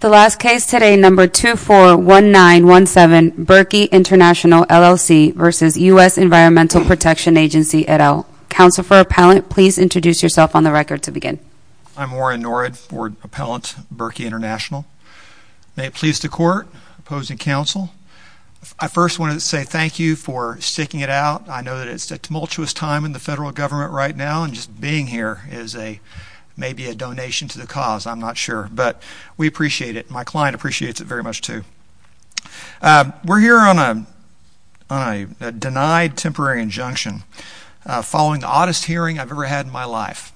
The last case today, No. 241917, Berkey International, LLC v. U.S. Environmental Protection Agency, et al. Counsel for Appellant, please introduce yourself on the record to begin. I'm Warren Norad, Board Appellant, Berkey International. May it please the Court, opposing counsel, I first want to say thank you for sticking it out. I know that it's a tumultuous time in the federal government right now, and just being here is maybe a donation to the cause, I'm not sure, but we appreciate it. My client appreciates it very much, too. We're here on a denied temporary injunction following the oddest hearing I've ever had in my life.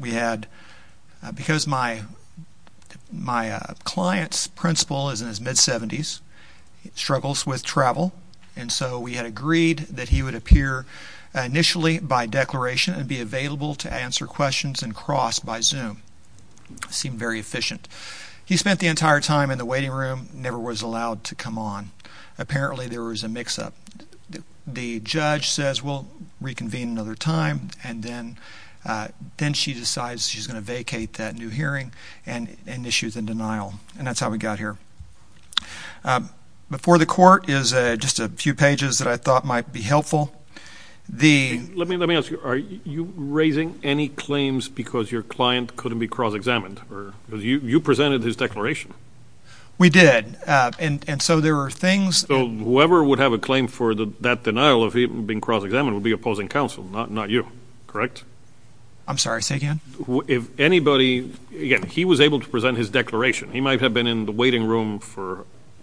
We had, because my client's principal is in his mid-70s, struggles with travel, and so we had agreed that he would appear initially by declaration and be available to answer questions and cross by Zoom. Seemed very efficient. He spent the entire time in the waiting room, never was allowed to come on. Apparently there was a mix-up. The judge says, we'll reconvene another time, and then she decides she's going to vacate that new hearing and issues a denial, and that's how we got here. Before the court is just a few pages that I thought might be helpful. Let me ask you, are you raising any claims because your client couldn't be cross-examined? You presented his declaration. We did, and so there were things... Whoever would have a claim for that denial of him being cross-examined would be opposing counsel, not you, correct? I'm sorry, say again? If anybody, again, he was able to present his declaration. He might have been in the waiting room for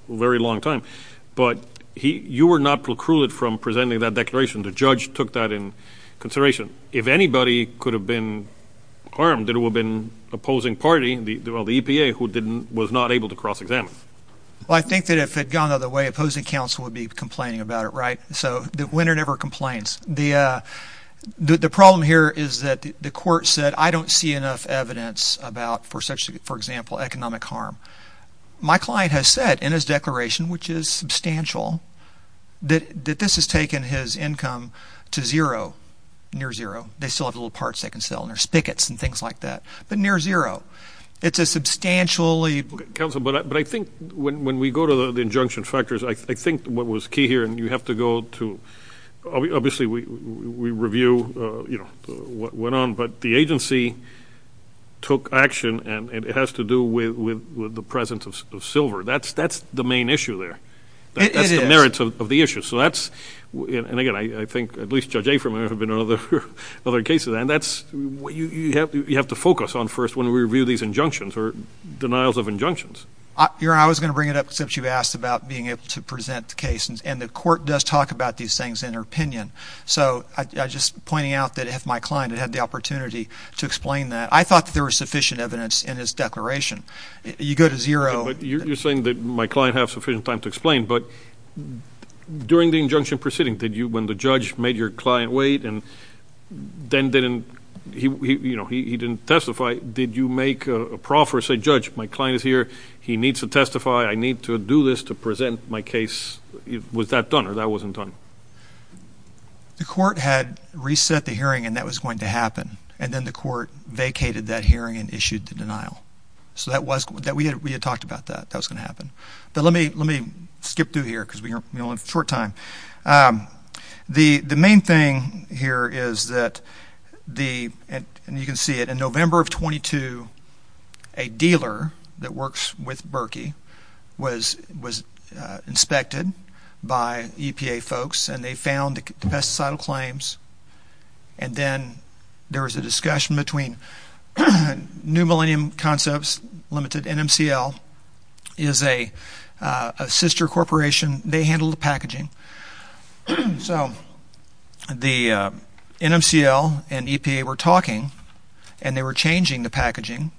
a very long time, but you were not precluded from presenting that declaration. The judge took that in consideration. If anybody could have been harmed, it would have been opposing party, the EPA, who was not able to cross-examine. Well, I think that if it had gone the other way, opposing counsel would be complaining about it, right? So, the winner never complains. The problem here is that the court said, I don't see enough evidence about, for example, economic harm. My client has said, in his declaration, which is substantial, that this has taken his income to zero, near zero. They still have little parts they can sell, and there's spigots and things like that, but near zero. It's a substantially... Counsel, but I think when we go to the injunction factors, I think what was key here, and you have to go to, obviously, we review what went on, but the agency took action, and it has to do with the presence of silver. That's the main issue there. It is. That's the merits of the issue. So, that's... And, again, I think, at least Judge Aferman, there have been other cases, and that's what you have to focus on first when we review these injunctions, or denials of injunctions. Your Honor, I was going to bring it up, since you've asked about being able to present cases, and the court does talk about these things in her opinion, so I'm just pointing out that if my client had had the opportunity to explain that, I thought that there was sufficient evidence in his declaration. You go to zero... But you're saying that my client had sufficient time to explain, but during the injunction proceeding, did you, when the judge made your client wait, and then didn't, he didn't testify, did you make a proffer, say, Judge, my client is here, he needs to testify, I need to do this to present my case? Was that done, or that wasn't done? The court had reset the hearing, and that was going to happen, and then the court vacated that hearing and issued the denial. So that was, we had talked about that, that was going to happen, but let me skip through here because we only have a short time. The main thing here is that the, and you can see it, in November of 22, a dealer that works with Berkey was inspected by EPA folks, and they found the pesticide claims, and then there was a discussion between New Millennium Concepts Limited, NMCL, is a sister corporation, they handle the packaging, so the NMCL and EPA were talking, and they were changing the packaging,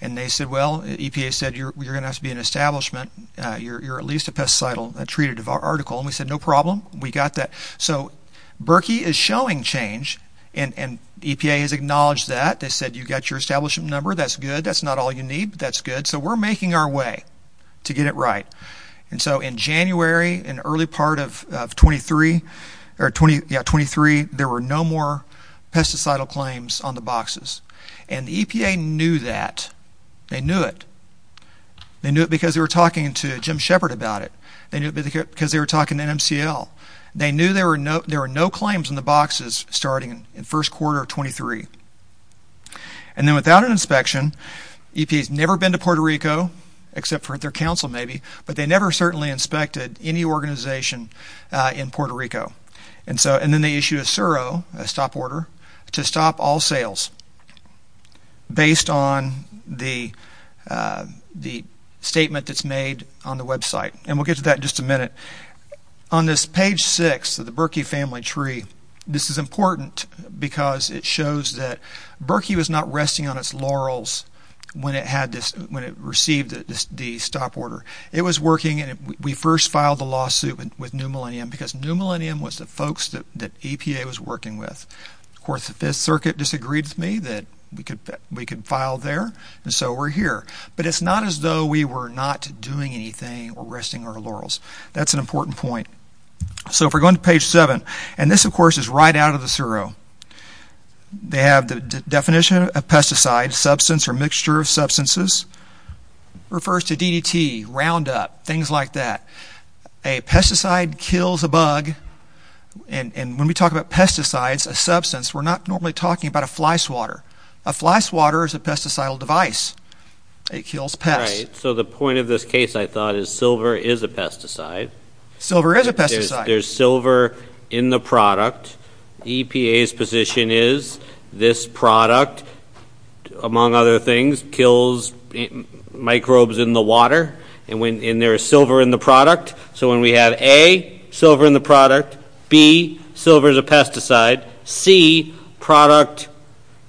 and they said, well, EPA said, you're going to have to be an establishment, you're at least a pesticide treated article, and we said, no problem, we got that. So Berkey is showing change, and EPA has acknowledged that, they said, you got your establishment number, that's good, that's not all you need, but that's good, so we're making our way to get it right. And so in January, in the early part of 23, there were no more pesticide claims on the boxes, and the EPA knew that, they knew it, they knew it because they were talking to Jim Shepard about it, they knew it because they were talking to NMCL. They knew there were no claims on the boxes starting in the first quarter of 23. And then without an inspection, EPA's never been to Puerto Rico, except for at their council maybe, but they never certainly inspected any organization in Puerto Rico. And so, and then they issued a SURO, a stop order, to stop all sales, based on the statement that's made on the website, and we'll get to that in just a minute. On this page 6 of the Berkey family tree, this is important because it shows that Berkey was not resting on its laurels when it had this, when it received the stop order. It was working, and we first filed the lawsuit with New Millennium, because New Millennium was the folks that EPA was working with. Of course, the Fifth Circuit disagreed with me that we could file there, and so we're here. But it's not as though we were not doing anything or resting on our laurels. That's an important point. So, if we're going to page 7, and this of course is right out of the SURO. They have the definition of pesticide, substance or mixture of substances, refers to DDT, Roundup, things like that. A pesticide kills a bug, and when we talk about pesticides, a substance, we're not normally talking about a fly swatter. A fly swatter is a pesticidal device. It kills pests. Right. So, the point of this case, I thought, is silver is a pesticide. Silver is a pesticide. There's silver in the product. EPA's position is this product, among other things, kills microbes in the water, and there is silver in the product, so when we have A, silver in the product, B, silver is a pesticide, C, product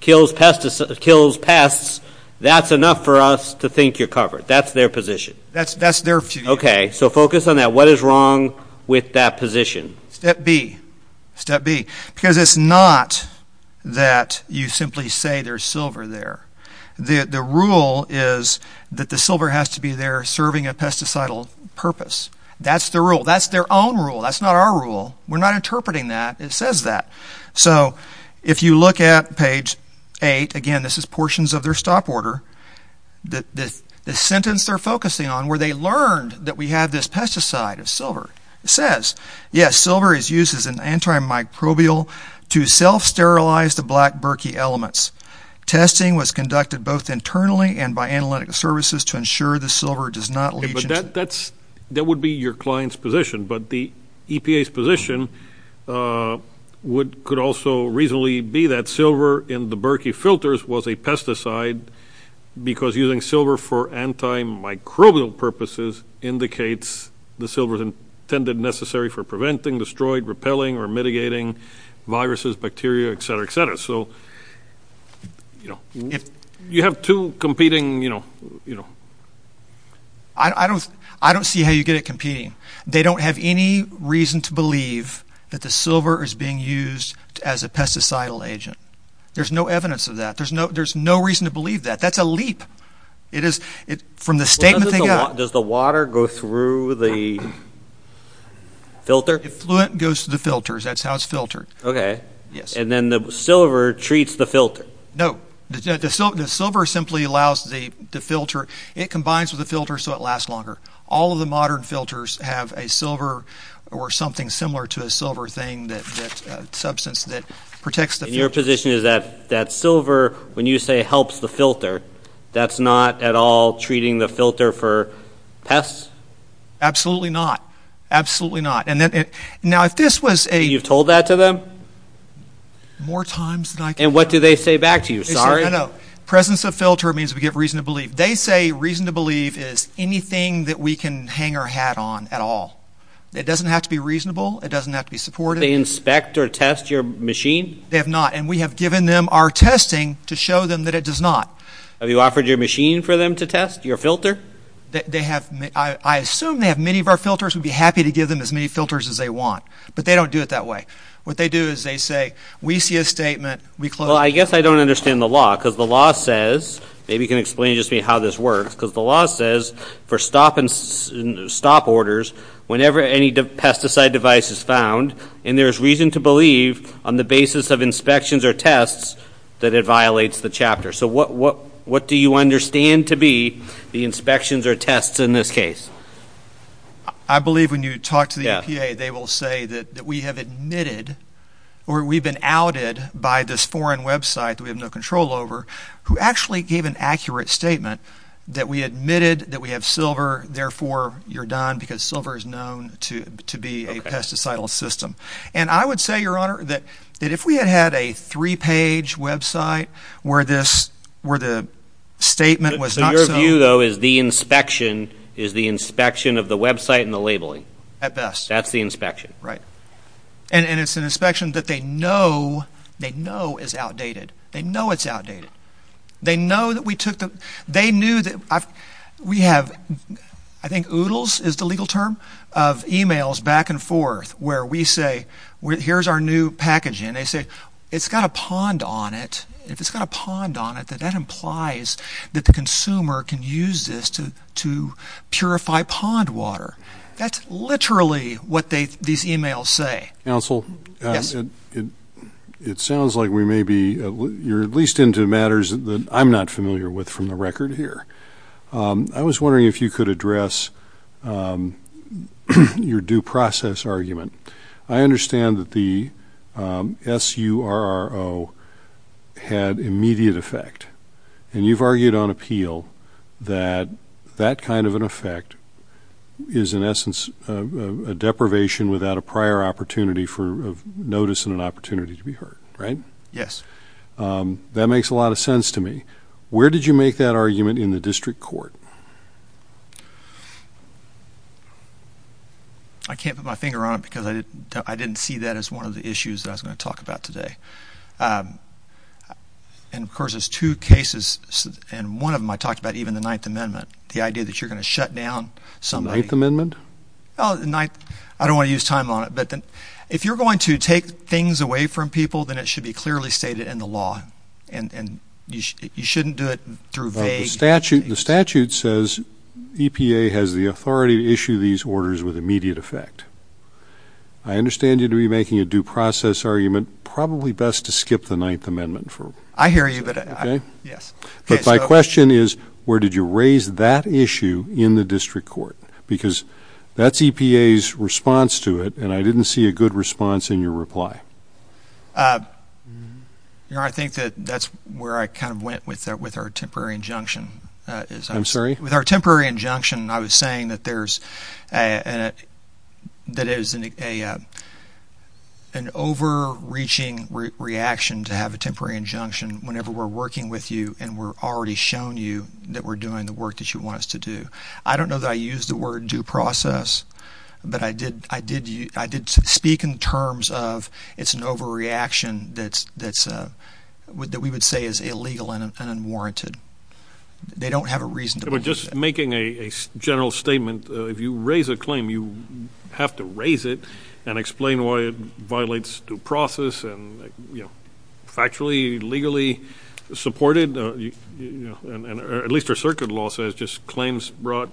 kills pests, that's enough for us to think you're covered. That's their position. That's their view. Okay. So, focus on that. What is wrong with that position? Step B. Step B. Because it's not that you simply say there's silver there. The rule is that the silver has to be there serving a pesticidal purpose. That's the rule. That's their own rule. That's not our rule. We're not interpreting that. It says that. So, if you look at page 8, again, this is portions of their stop order, the sentence they're focusing on, where they learned that we have this pesticide of silver, it says, yes, silver is used as an antimicrobial to self-sterilize the black burkey elements. Testing was conducted both internally and by analytic services to ensure the silver does not leach into- That would be your client's position. But the EPA's position could also reasonably be that silver in the burkey filters was a pesticide because using silver for antimicrobial purposes indicates the silver is intended necessary for preventing, destroying, repelling, or mitigating viruses, bacteria, et cetera, et cetera. So, you know, you have two competing, you know- I don't see how you get it competing. They don't have any reason to believe that the silver is being used as a pesticide agent. There's no evidence of that. There's no reason to believe that. That's a leap. It is, from the statement they got- Does the water go through the filter? Fluent goes to the filters. That's how it's filtered. Okay. Yes. And then the silver treats the filter. No. The silver simply allows the filter. It combines with the filter so it lasts longer. All of the modern filters have a silver or something similar to a silver thing that, a substance that protects the filter. Your position is that that silver, when you say helps the filter, that's not at all treating the filter for pests? Absolutely not. Absolutely not. And then it- Now, if this was a- You've told that to them? More times than I can count. And what do they say back to you? Sorry? I know. Presence of filter means we give reason to believe. They say reason to believe is anything that we can hang our hat on at all. It doesn't have to be reasonable. It doesn't have to be supportive. Do they inspect or test your machine? They have not. And we have given them our testing to show them that it does not. Have you offered your machine for them to test? Your filter? They have. I assume they have many of our filters. We'd be happy to give them as many filters as they want. But they don't do it that way. What they do is they say, we see a statement, we close- Well, I guess I don't understand the law. Because the law says, maybe you can explain just to me how this works, because the law says for stop orders, whenever any pesticide device is found, and there is reason to believe on the basis of inspections or tests, that it violates the chapter. So what do you understand to be the inspections or tests in this case? I believe when you talk to the EPA, they will say that we have admitted, or we've been outed by this foreign website that we have no control over, who actually gave an accurate statement that we admitted that we have silver, therefore you're done, because silver is known to be a pesticide system. And I would say, Your Honor, that if we had had a three-page website where the statement was not so- So your view, though, is the inspection is the inspection of the website and the labeling? At best. That's the inspection. Right. And it's an inspection that they know, they know is outdated. They know it's outdated. They know that we took the, they knew that, we have, I think oodles is the legal term, of emails back and forth where we say, here's our new packaging, and they say, it's got a pond on it, if it's got a pond on it, that implies that the consumer can use this to purify pond water. That's literally what they, these emails say. Counsel, it sounds like we may be, you're at least into matters that I'm not familiar with from the record here. I was wondering if you could address your due process argument. I understand that the SURRO had immediate effect, and you've argued on appeal that that kind of an effect is, in essence, a deprivation without a prior opportunity for notice and an opportunity to be heard, right? Yes. That makes a lot of sense to me. Where did you make that argument in the district court? I can't put my finger on it because I didn't see that as one of the issues that I was going to talk about today. And, of course, there's two cases, and one of them I talked about even in the Ninth Amendment, the idea that you're going to shut down somebody. The Ninth Amendment? Oh, the Ninth, I don't want to use time on it, but if you're going to take things away from people, then it should be clearly stated in the law, and you shouldn't do it through vague... But the statute says EPA has the authority to issue these orders with immediate effect. I understand you to be making a due process argument. Probably best to skip the Ninth Amendment for... I hear you, but... Okay? Yes. But my question is, where did you raise that issue in the district court? Because that's EPA's response to it, and I didn't see a good response in your reply. I think that that's where I kind of went with our temporary injunction. I'm sorry? With our temporary injunction, I was saying that there's an overreaching reaction to have a temporary injunction whenever we're working with you and we're already shown you that we're doing the work that you want us to do. I don't know that I used the word due process, but I did speak in terms of it's an overreaction that we would say is illegal and unwarranted. They don't have a reason to... But just making a general statement, if you raise a claim, you have to raise it and explain why it violates due process and factually, legally supported, and at least our circuit law says just claims brought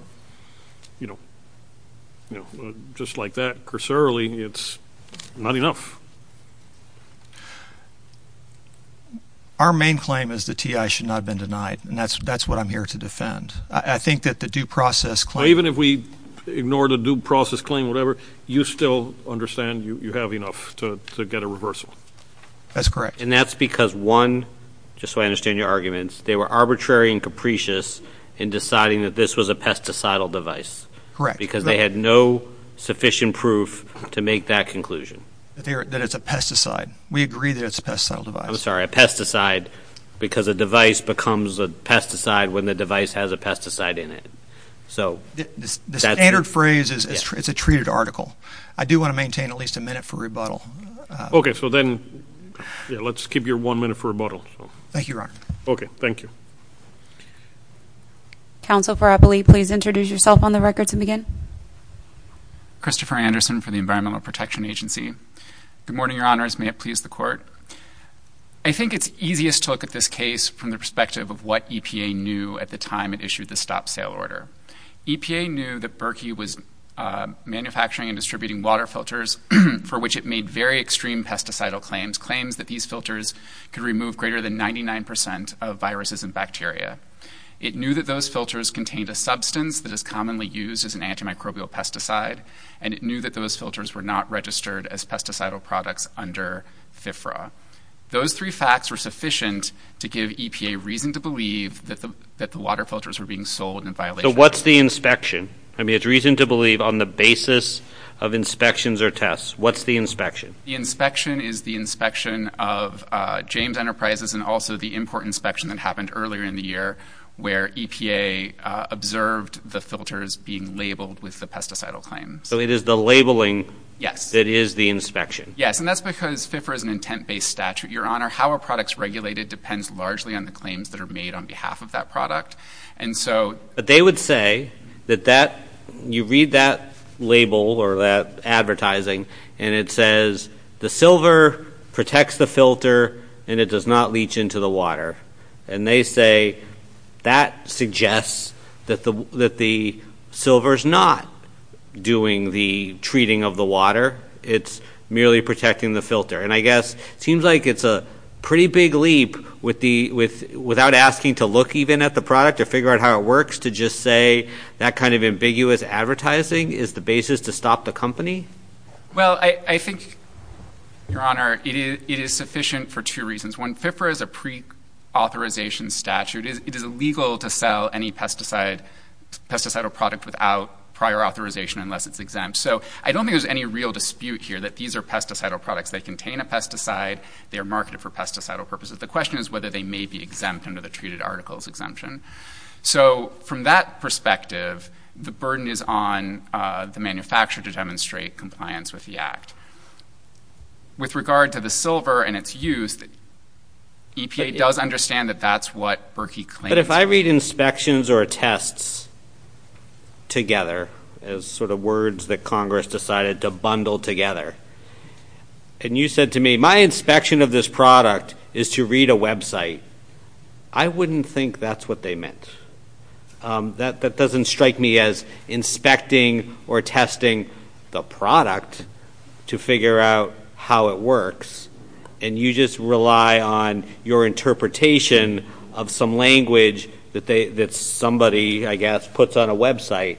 just like that, cursorily, it's not enough. Our main claim is the TI should not have been denied, and that's what I'm here to defend. I think that the due process claim... Even if we ignored a due process claim, whatever, you still understand you have enough to get a reversal. That's correct. And that's because one, just so I understand your arguments, they were arbitrary and capricious in deciding that this was a pesticidal device. Correct. Because they had no sufficient proof to make that conclusion. That it's a pesticide. We agree that it's a pesticide. I'm sorry. A pesticide because a device becomes a pesticide when the device has a pesticide in it. So... The standard phrase is it's a treated article. I do want to maintain at least a minute for rebuttal. Okay. So then let's keep your one minute for rebuttal. Thank you, Your Honor. Okay. Thank you. Counsel Farapoli, please introduce yourself on the record to begin. Christopher Anderson for the Environmental Protection Agency. Good morning, Your Honors. May it please the court. I think it's easiest to look at this case from the perspective of what EPA knew at the time it issued the stop sale order. EPA knew that Berkey was manufacturing and distributing water filters for which it made very extreme pesticide claims. Claims that these filters could remove greater than 99% of viruses and bacteria. It knew that those filters contained a substance that is commonly used as an antimicrobial pesticide. And it knew that those filters were not registered as pesticide products under FFRA. Those three facts were sufficient to give EPA reason to believe that the water filters were being sold in violation. So what's the inspection? I mean, it's reason to believe on the basis of inspections or tests. What's the inspection? The inspection is the inspection of James Enterprises and also the import inspection that happened earlier in the year where EPA observed the filters being labeled with the pesticide claims. So it is the labeling that is the inspection? Yes. And that's because FFRA is an intent-based statute, Your Honor. How a product is regulated depends largely on the claims that are made on behalf of that product. And so... But they would say that that, you read that label or that advertising and it says the silver protects the filter and it does not leach into the water. And they say that suggests that the silver is not doing the treating of the water. It's merely protecting the filter. And I guess it seems like it's a pretty big leap without asking to look even at the product or figure out how it works to just say that kind of ambiguous advertising is the basis to stop the company? Well, I think, Your Honor, it is sufficient for two reasons. One, FFRA is a pre-authorization statute. It is illegal to sell any pesticide or product without prior authorization unless it's exempt. So I don't think there's any real dispute here that these are pesticide or products. They contain a pesticide. They are marketed for pesticide or purposes. The question is whether they may be exempt under the treated articles exemption. So from that perspective, the burden is on the manufacturer to demonstrate compliance with the act. With regard to the silver and its use, EPA does understand that that's what Berkey claims. But if I read inspections or tests together as sort of words that Congress decided to bundle together, and you said to me, my inspection of this product is to read a website, I wouldn't think that's what they meant. That doesn't strike me as inspecting or testing the product to figure out how it works. And you just rely on your interpretation of some language that somebody, I guess, puts on a website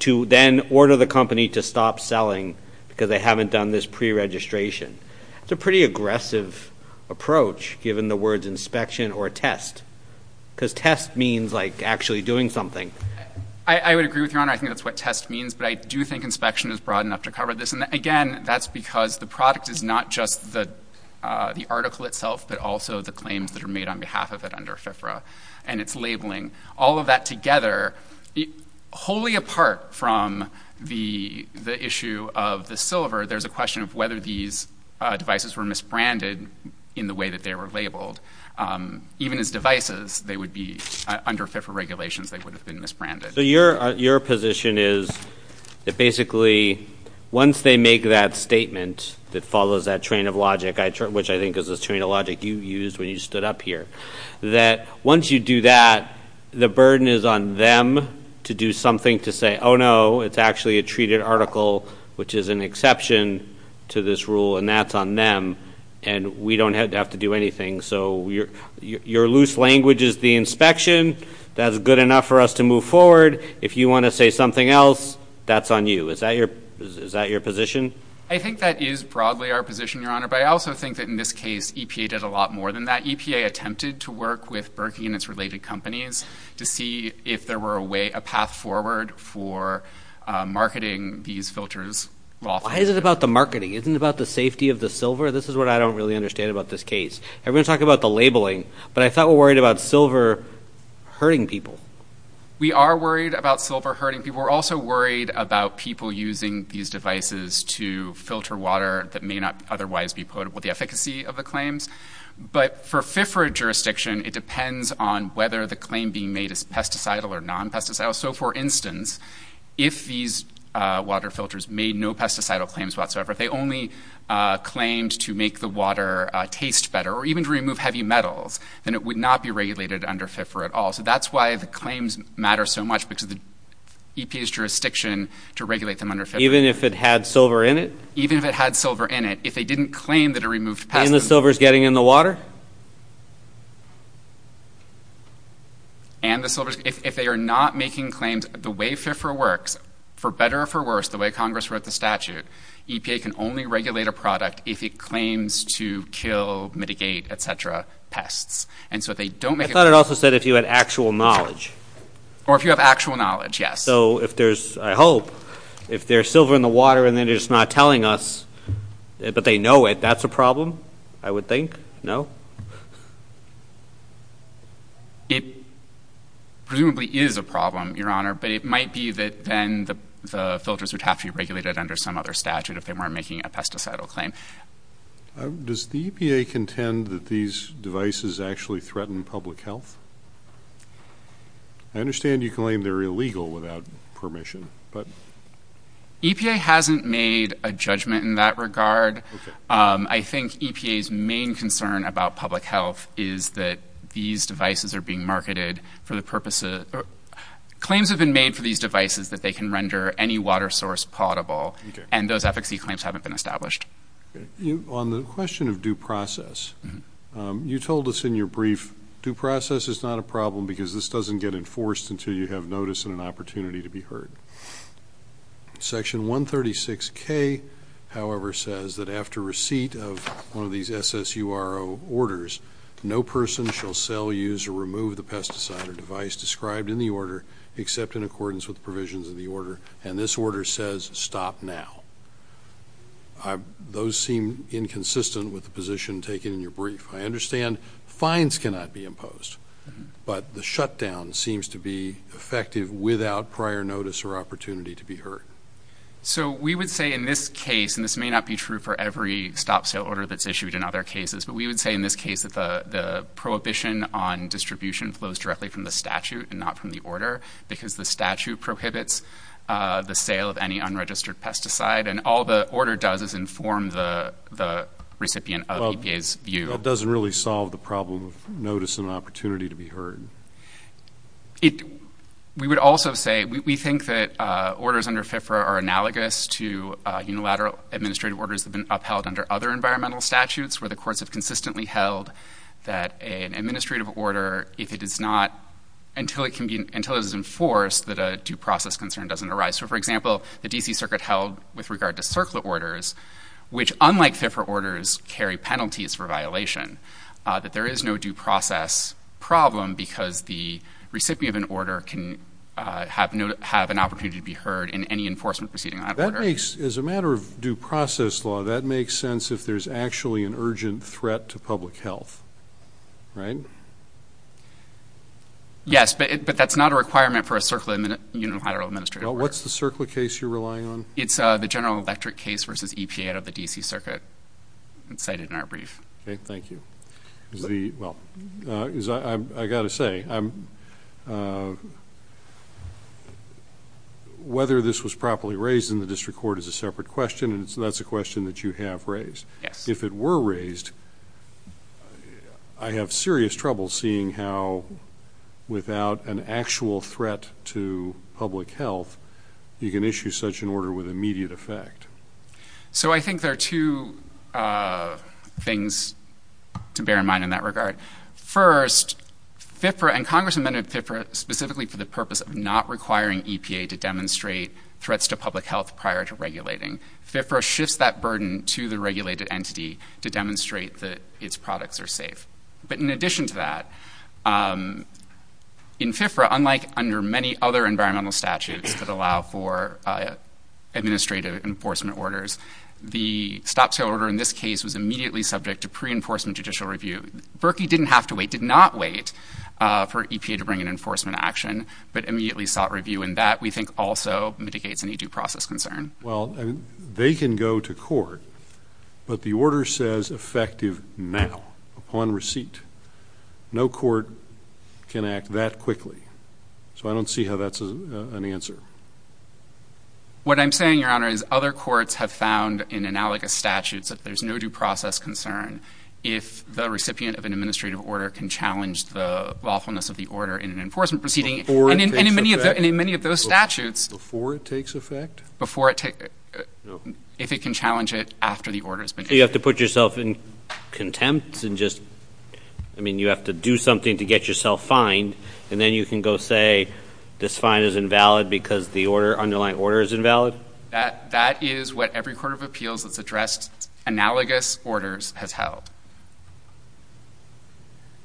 to then order the company to stop selling because they haven't done this pre-registration. That's a pretty aggressive approach, given the words inspection or test, because test means like actually doing something. I would agree with Your Honor. I think that's what test means. But I do think inspection is broad enough to cover this. And again, that's because the product is not just the article itself, but also the claims that are made on behalf of it under FIFRA and its labeling. All of that together, wholly apart from the issue of the silver, there's a question of whether these devices were misbranded in the way that they were labeled. Even as devices, they would be, under FIFRA regulations, they would have been misbranded. So your position is that basically once they make that statement that follows that train of logic, which I think is the train of logic you used when you stood up here, that once you do that, the burden is on them to do something to say, oh no, it's actually a treated article, which is an exception to this rule, and that's on them, and we don't have to do anything. So your loose language is the inspection, that's good enough for us to move forward. If you want to say something else, that's on you. Is that your position? I think that is broadly our position, Your Honor. But I also think that in this case, EPA did a lot more than that. EPA attempted to work with Berkey and its related companies to see if there were a way, a path forward for marketing these filters lawfully. Why is it about the marketing? Isn't it about the safety of the silver? This is what I don't really understand about this case. Everyone's talking about the labeling, but I thought we were worried about silver hurting people. We are worried about silver hurting people. We're also worried about people using these devices to filter water that may not otherwise be potable, the efficacy of the claims. But for FFRA jurisdiction, it depends on whether the claim being made is pesticide or non-pesticide. So for instance, if these water filters made no pesticide claims whatsoever, if they only claimed to make the water taste better, or even to remove heavy metals, then it would not be regulated under FFRA at all. So that's why the claims matter so much, because of the EPA's jurisdiction to regulate them under FFRA. Even if it had silver in it? Even if it had silver in it. If they didn't claim that it removed pesticides. And the silver's getting in the water? And the silver's, if they are not making claims, the way FFRA works, for better or for worse, the way Congress wrote the statute, EPA can only regulate a product if it claims to kill, mitigate, et cetera, pests. And so if they don't make a claim- I thought it also said if you had actual knowledge. Or if you have actual knowledge, yes. So if there's, I hope, if there's silver in the water and then it's not telling us, but they know it, that's a problem? I would think, no? It presumably is a problem, Your Honor, but it might be that then the filters would have to be regulated under some other statute if they weren't making a pesticidal claim. Does the EPA contend that these devices actually threaten public health? I understand you claim they're illegal without permission, but- EPA hasn't made a judgment in that regard. I think EPA's main concern about public health is that these devices are being marketed for the purpose of- claims have been made for these devices that they can render any water source potable. And those efficacy claims haven't been established. On the question of due process, you told us in your brief, due process is not a problem because this doesn't get enforced until you have notice and an opportunity to be heard. Section 136K, however, says that after receipt of one of these SSURO orders, no person shall sell, use, or remove the pesticide or device described in the order except in accordance with provisions of the order. And this order says stop now. Those seem inconsistent with the position taken in your brief. I understand fines cannot be imposed, but the shutdown seems to be effective without prior notice or opportunity to be heard. So we would say in this case, and this may not be true for every stop sale order that's issued in other cases. But we would say in this case that the prohibition on distribution flows directly from the statute and not from the order, because the statute prohibits the sale of any unregistered pesticide. And all the order does is inform the recipient of EPA's view. That doesn't really solve the problem of notice and opportunity to be heard. We would also say, we think that orders under FIFRA are analogous to unilateral administrative orders that have been upheld under other environmental statutes, where the courts have consistently held that an administrative order, if it is not, until it is enforced, that a due process concern doesn't arise. So for example, the DC Circuit held with regard to circular orders, which unlike FIFRA orders, carry penalties for violation, that there is no due process problem because the recipient of an order can have an opportunity to be heard in any enforcement proceeding on that order. As a matter of due process law, that makes sense if there's actually an urgent threat to public health, right? Yes, but that's not a requirement for a circular unilateral administrative order. What's the circular case you're relying on? It's the General Electric case versus EPA out of the DC Circuit. It's cited in our brief. Okay, thank you. Is the, well, I've got to say, whether this was properly raised in the district court is a separate question, and that's a question that you have raised. Yes. If it were raised, I have serious trouble seeing how, without an actual threat to public health, you can issue such an order with immediate effect. So I think there are two things to bear in mind in that regard. First, FIFRA, and Congress amended FIFRA specifically for the purpose of not requiring EPA to demonstrate threats to public health prior to regulating. FIFRA shifts that burden to the regulated entity to demonstrate that its products are safe. But in addition to that, in FIFRA, unlike under many other environmental statutes that allow for administrative enforcement orders, the stop sale order in this case was immediately subject to pre-enforcement judicial review. Berkey didn't have to wait, did not wait, for EPA to bring an enforcement action, but immediately sought review, and that, we think, also mitigates any due process concern. Well, they can go to court, but the order says effective now, upon receipt. No court can act that quickly, so I don't see how that's an answer. What I'm saying, Your Honor, is other courts have found in analogous statutes that there's no due process concern if the recipient of an administrative order can challenge the lawfulness of the order in an enforcement proceeding. Before it takes effect? And in many of those statutes. Before it takes effect? Before it takes effect. If it can challenge it after the order has been issued. So you have to put yourself in contempt and just, I mean, you have to do something to get yourself fined, and then you can go say this fine is invalid because the underlying order is invalid? That is what every court of appeals that's addressed analogous orders has held.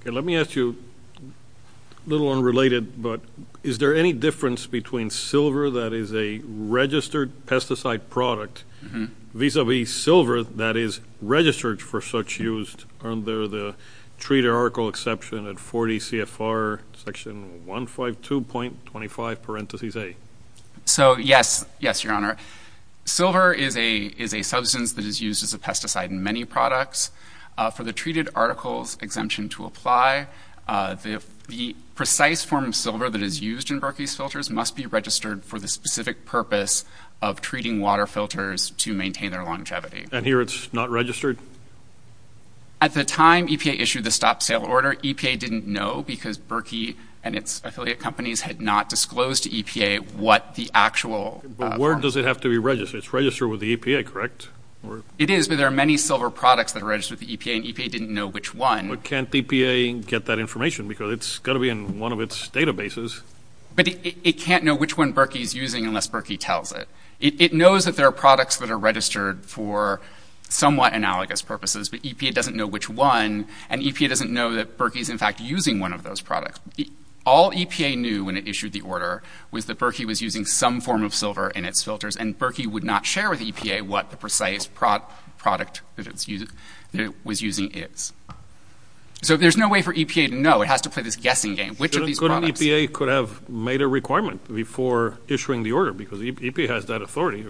Okay, let me ask you, a little unrelated, but is there any difference between silver that is a registered pesticide product, vis-a-vis silver that is registered for such use, under the treat or article exception at 40 CFR section 152.25 parentheses A? So, yes. Yes, Your Honor. Silver is a substance that is used as a pesticide in many products. For the treated articles exemption to apply, the precise form of silver that is used in Berkey's filters must be registered for the specific purpose of treating water filters to maintain their longevity. And here it's not registered? At the time EPA issued the stop-sale order, EPA didn't know because Berkey and its affiliate companies had not disclosed to EPA what the actual form was. But where does it have to be registered? It's registered with the EPA, correct? It is, but there are many silver products that are registered with the EPA, and EPA didn't know which one. But can't EPA get that information because it's got to be in one of its databases. But it can't know which one Berkey is using unless Berkey tells it. It knows that there are products that are registered for somewhat analogous purposes, but EPA doesn't know which one, and EPA doesn't know that Berkey is, in fact, using one of those products. All EPA knew when it issued the order was that Berkey was using some form of silver in its filters, and Berkey would not share with EPA what the precise product that it was using is. So there's no way for EPA to know. It has to play this guessing game. Which of these products? Couldn't EPA have made a requirement before issuing the order because EPA has that authority?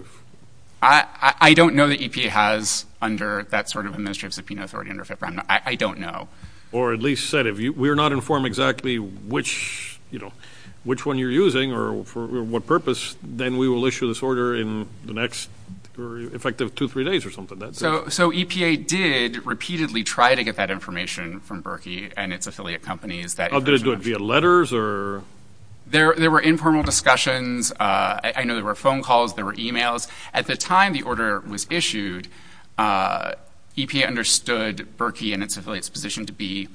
I don't know that EPA has under that sort of administrative subpoena authority under FIPRA. I don't know. Or at least said, if we're not informed exactly which one you're using or for what purpose, then we will issue this order in the next effective two, three days or something. So EPA did repeatedly try to get that information from Berkey and its affiliate companies. Did it do it via letters or? There were informal discussions. I know there were phone calls. There were e-mails. At the time the order was issued, EPA understood Berkey and its affiliate's position to be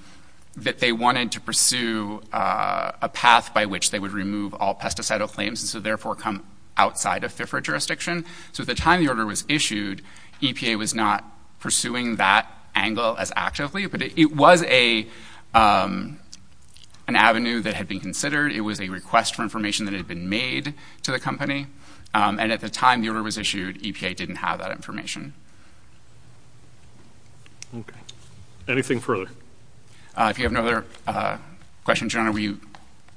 that they wanted to pursue a path by which they would remove all pesticide claims and so therefore come outside of FIPRA jurisdiction. So at the time the order was issued, EPA was not pursuing that angle as actively. But it was an avenue that had been considered. It was a request for information that had been made to the company. And at the time the order was issued, EPA didn't have that information. Okay. Anything further? If you have no other questions, Your Honor, we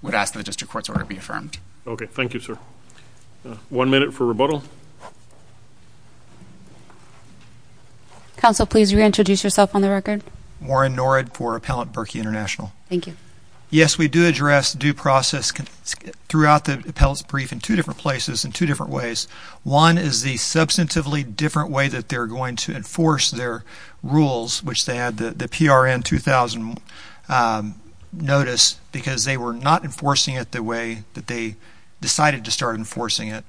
would ask that the district court's order be affirmed. Okay. Thank you, sir. One minute for rebuttal. Counsel, please reintroduce yourself on the record. Warren Norad for Appellant Berkey International. Thank you. Yes, we do address due process throughout the appellant's brief in two different places in two different ways. One is the substantively different way that they're going to enforce their rules, which they had the PRN 2000 notice, because they were not enforcing it the way that they decided to start enforcing it.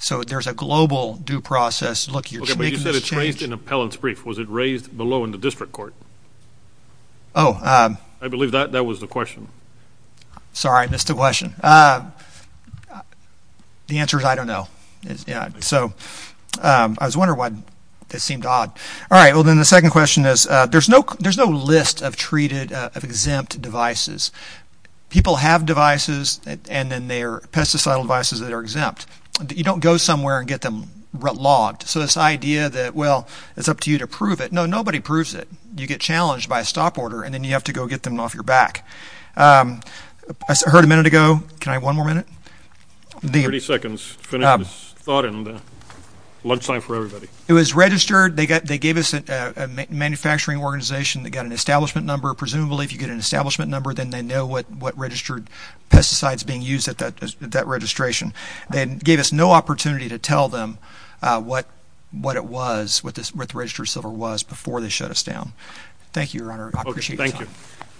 So there's a global due process. Okay, but you said it's raised in appellant's brief. Was it raised below in the district court? Oh. I believe that was the question. Sorry, I missed the question. The answer is I don't know. So I was wondering why that seemed odd. All right, well, then the second question is there's no list of treated, of exempt devices. People have devices, and then they are pesticide devices that are exempt. You don't go somewhere and get them logged. So this idea that, well, it's up to you to prove it. No, nobody proves it. You get challenged by a stop order, and then you have to go get them off your back. I heard a minute ago. Can I have one more minute? 30 seconds to finish this thought and lunchtime for everybody. It was registered. They gave us a manufacturing organization that got an establishment number. Presumably if you get an establishment number, then they know what registered pesticide is being used at that registration. They gave us no opportunity to tell them what it was, what the registered silver was, before they shut us down. Thank you, Your Honor. I appreciate your time.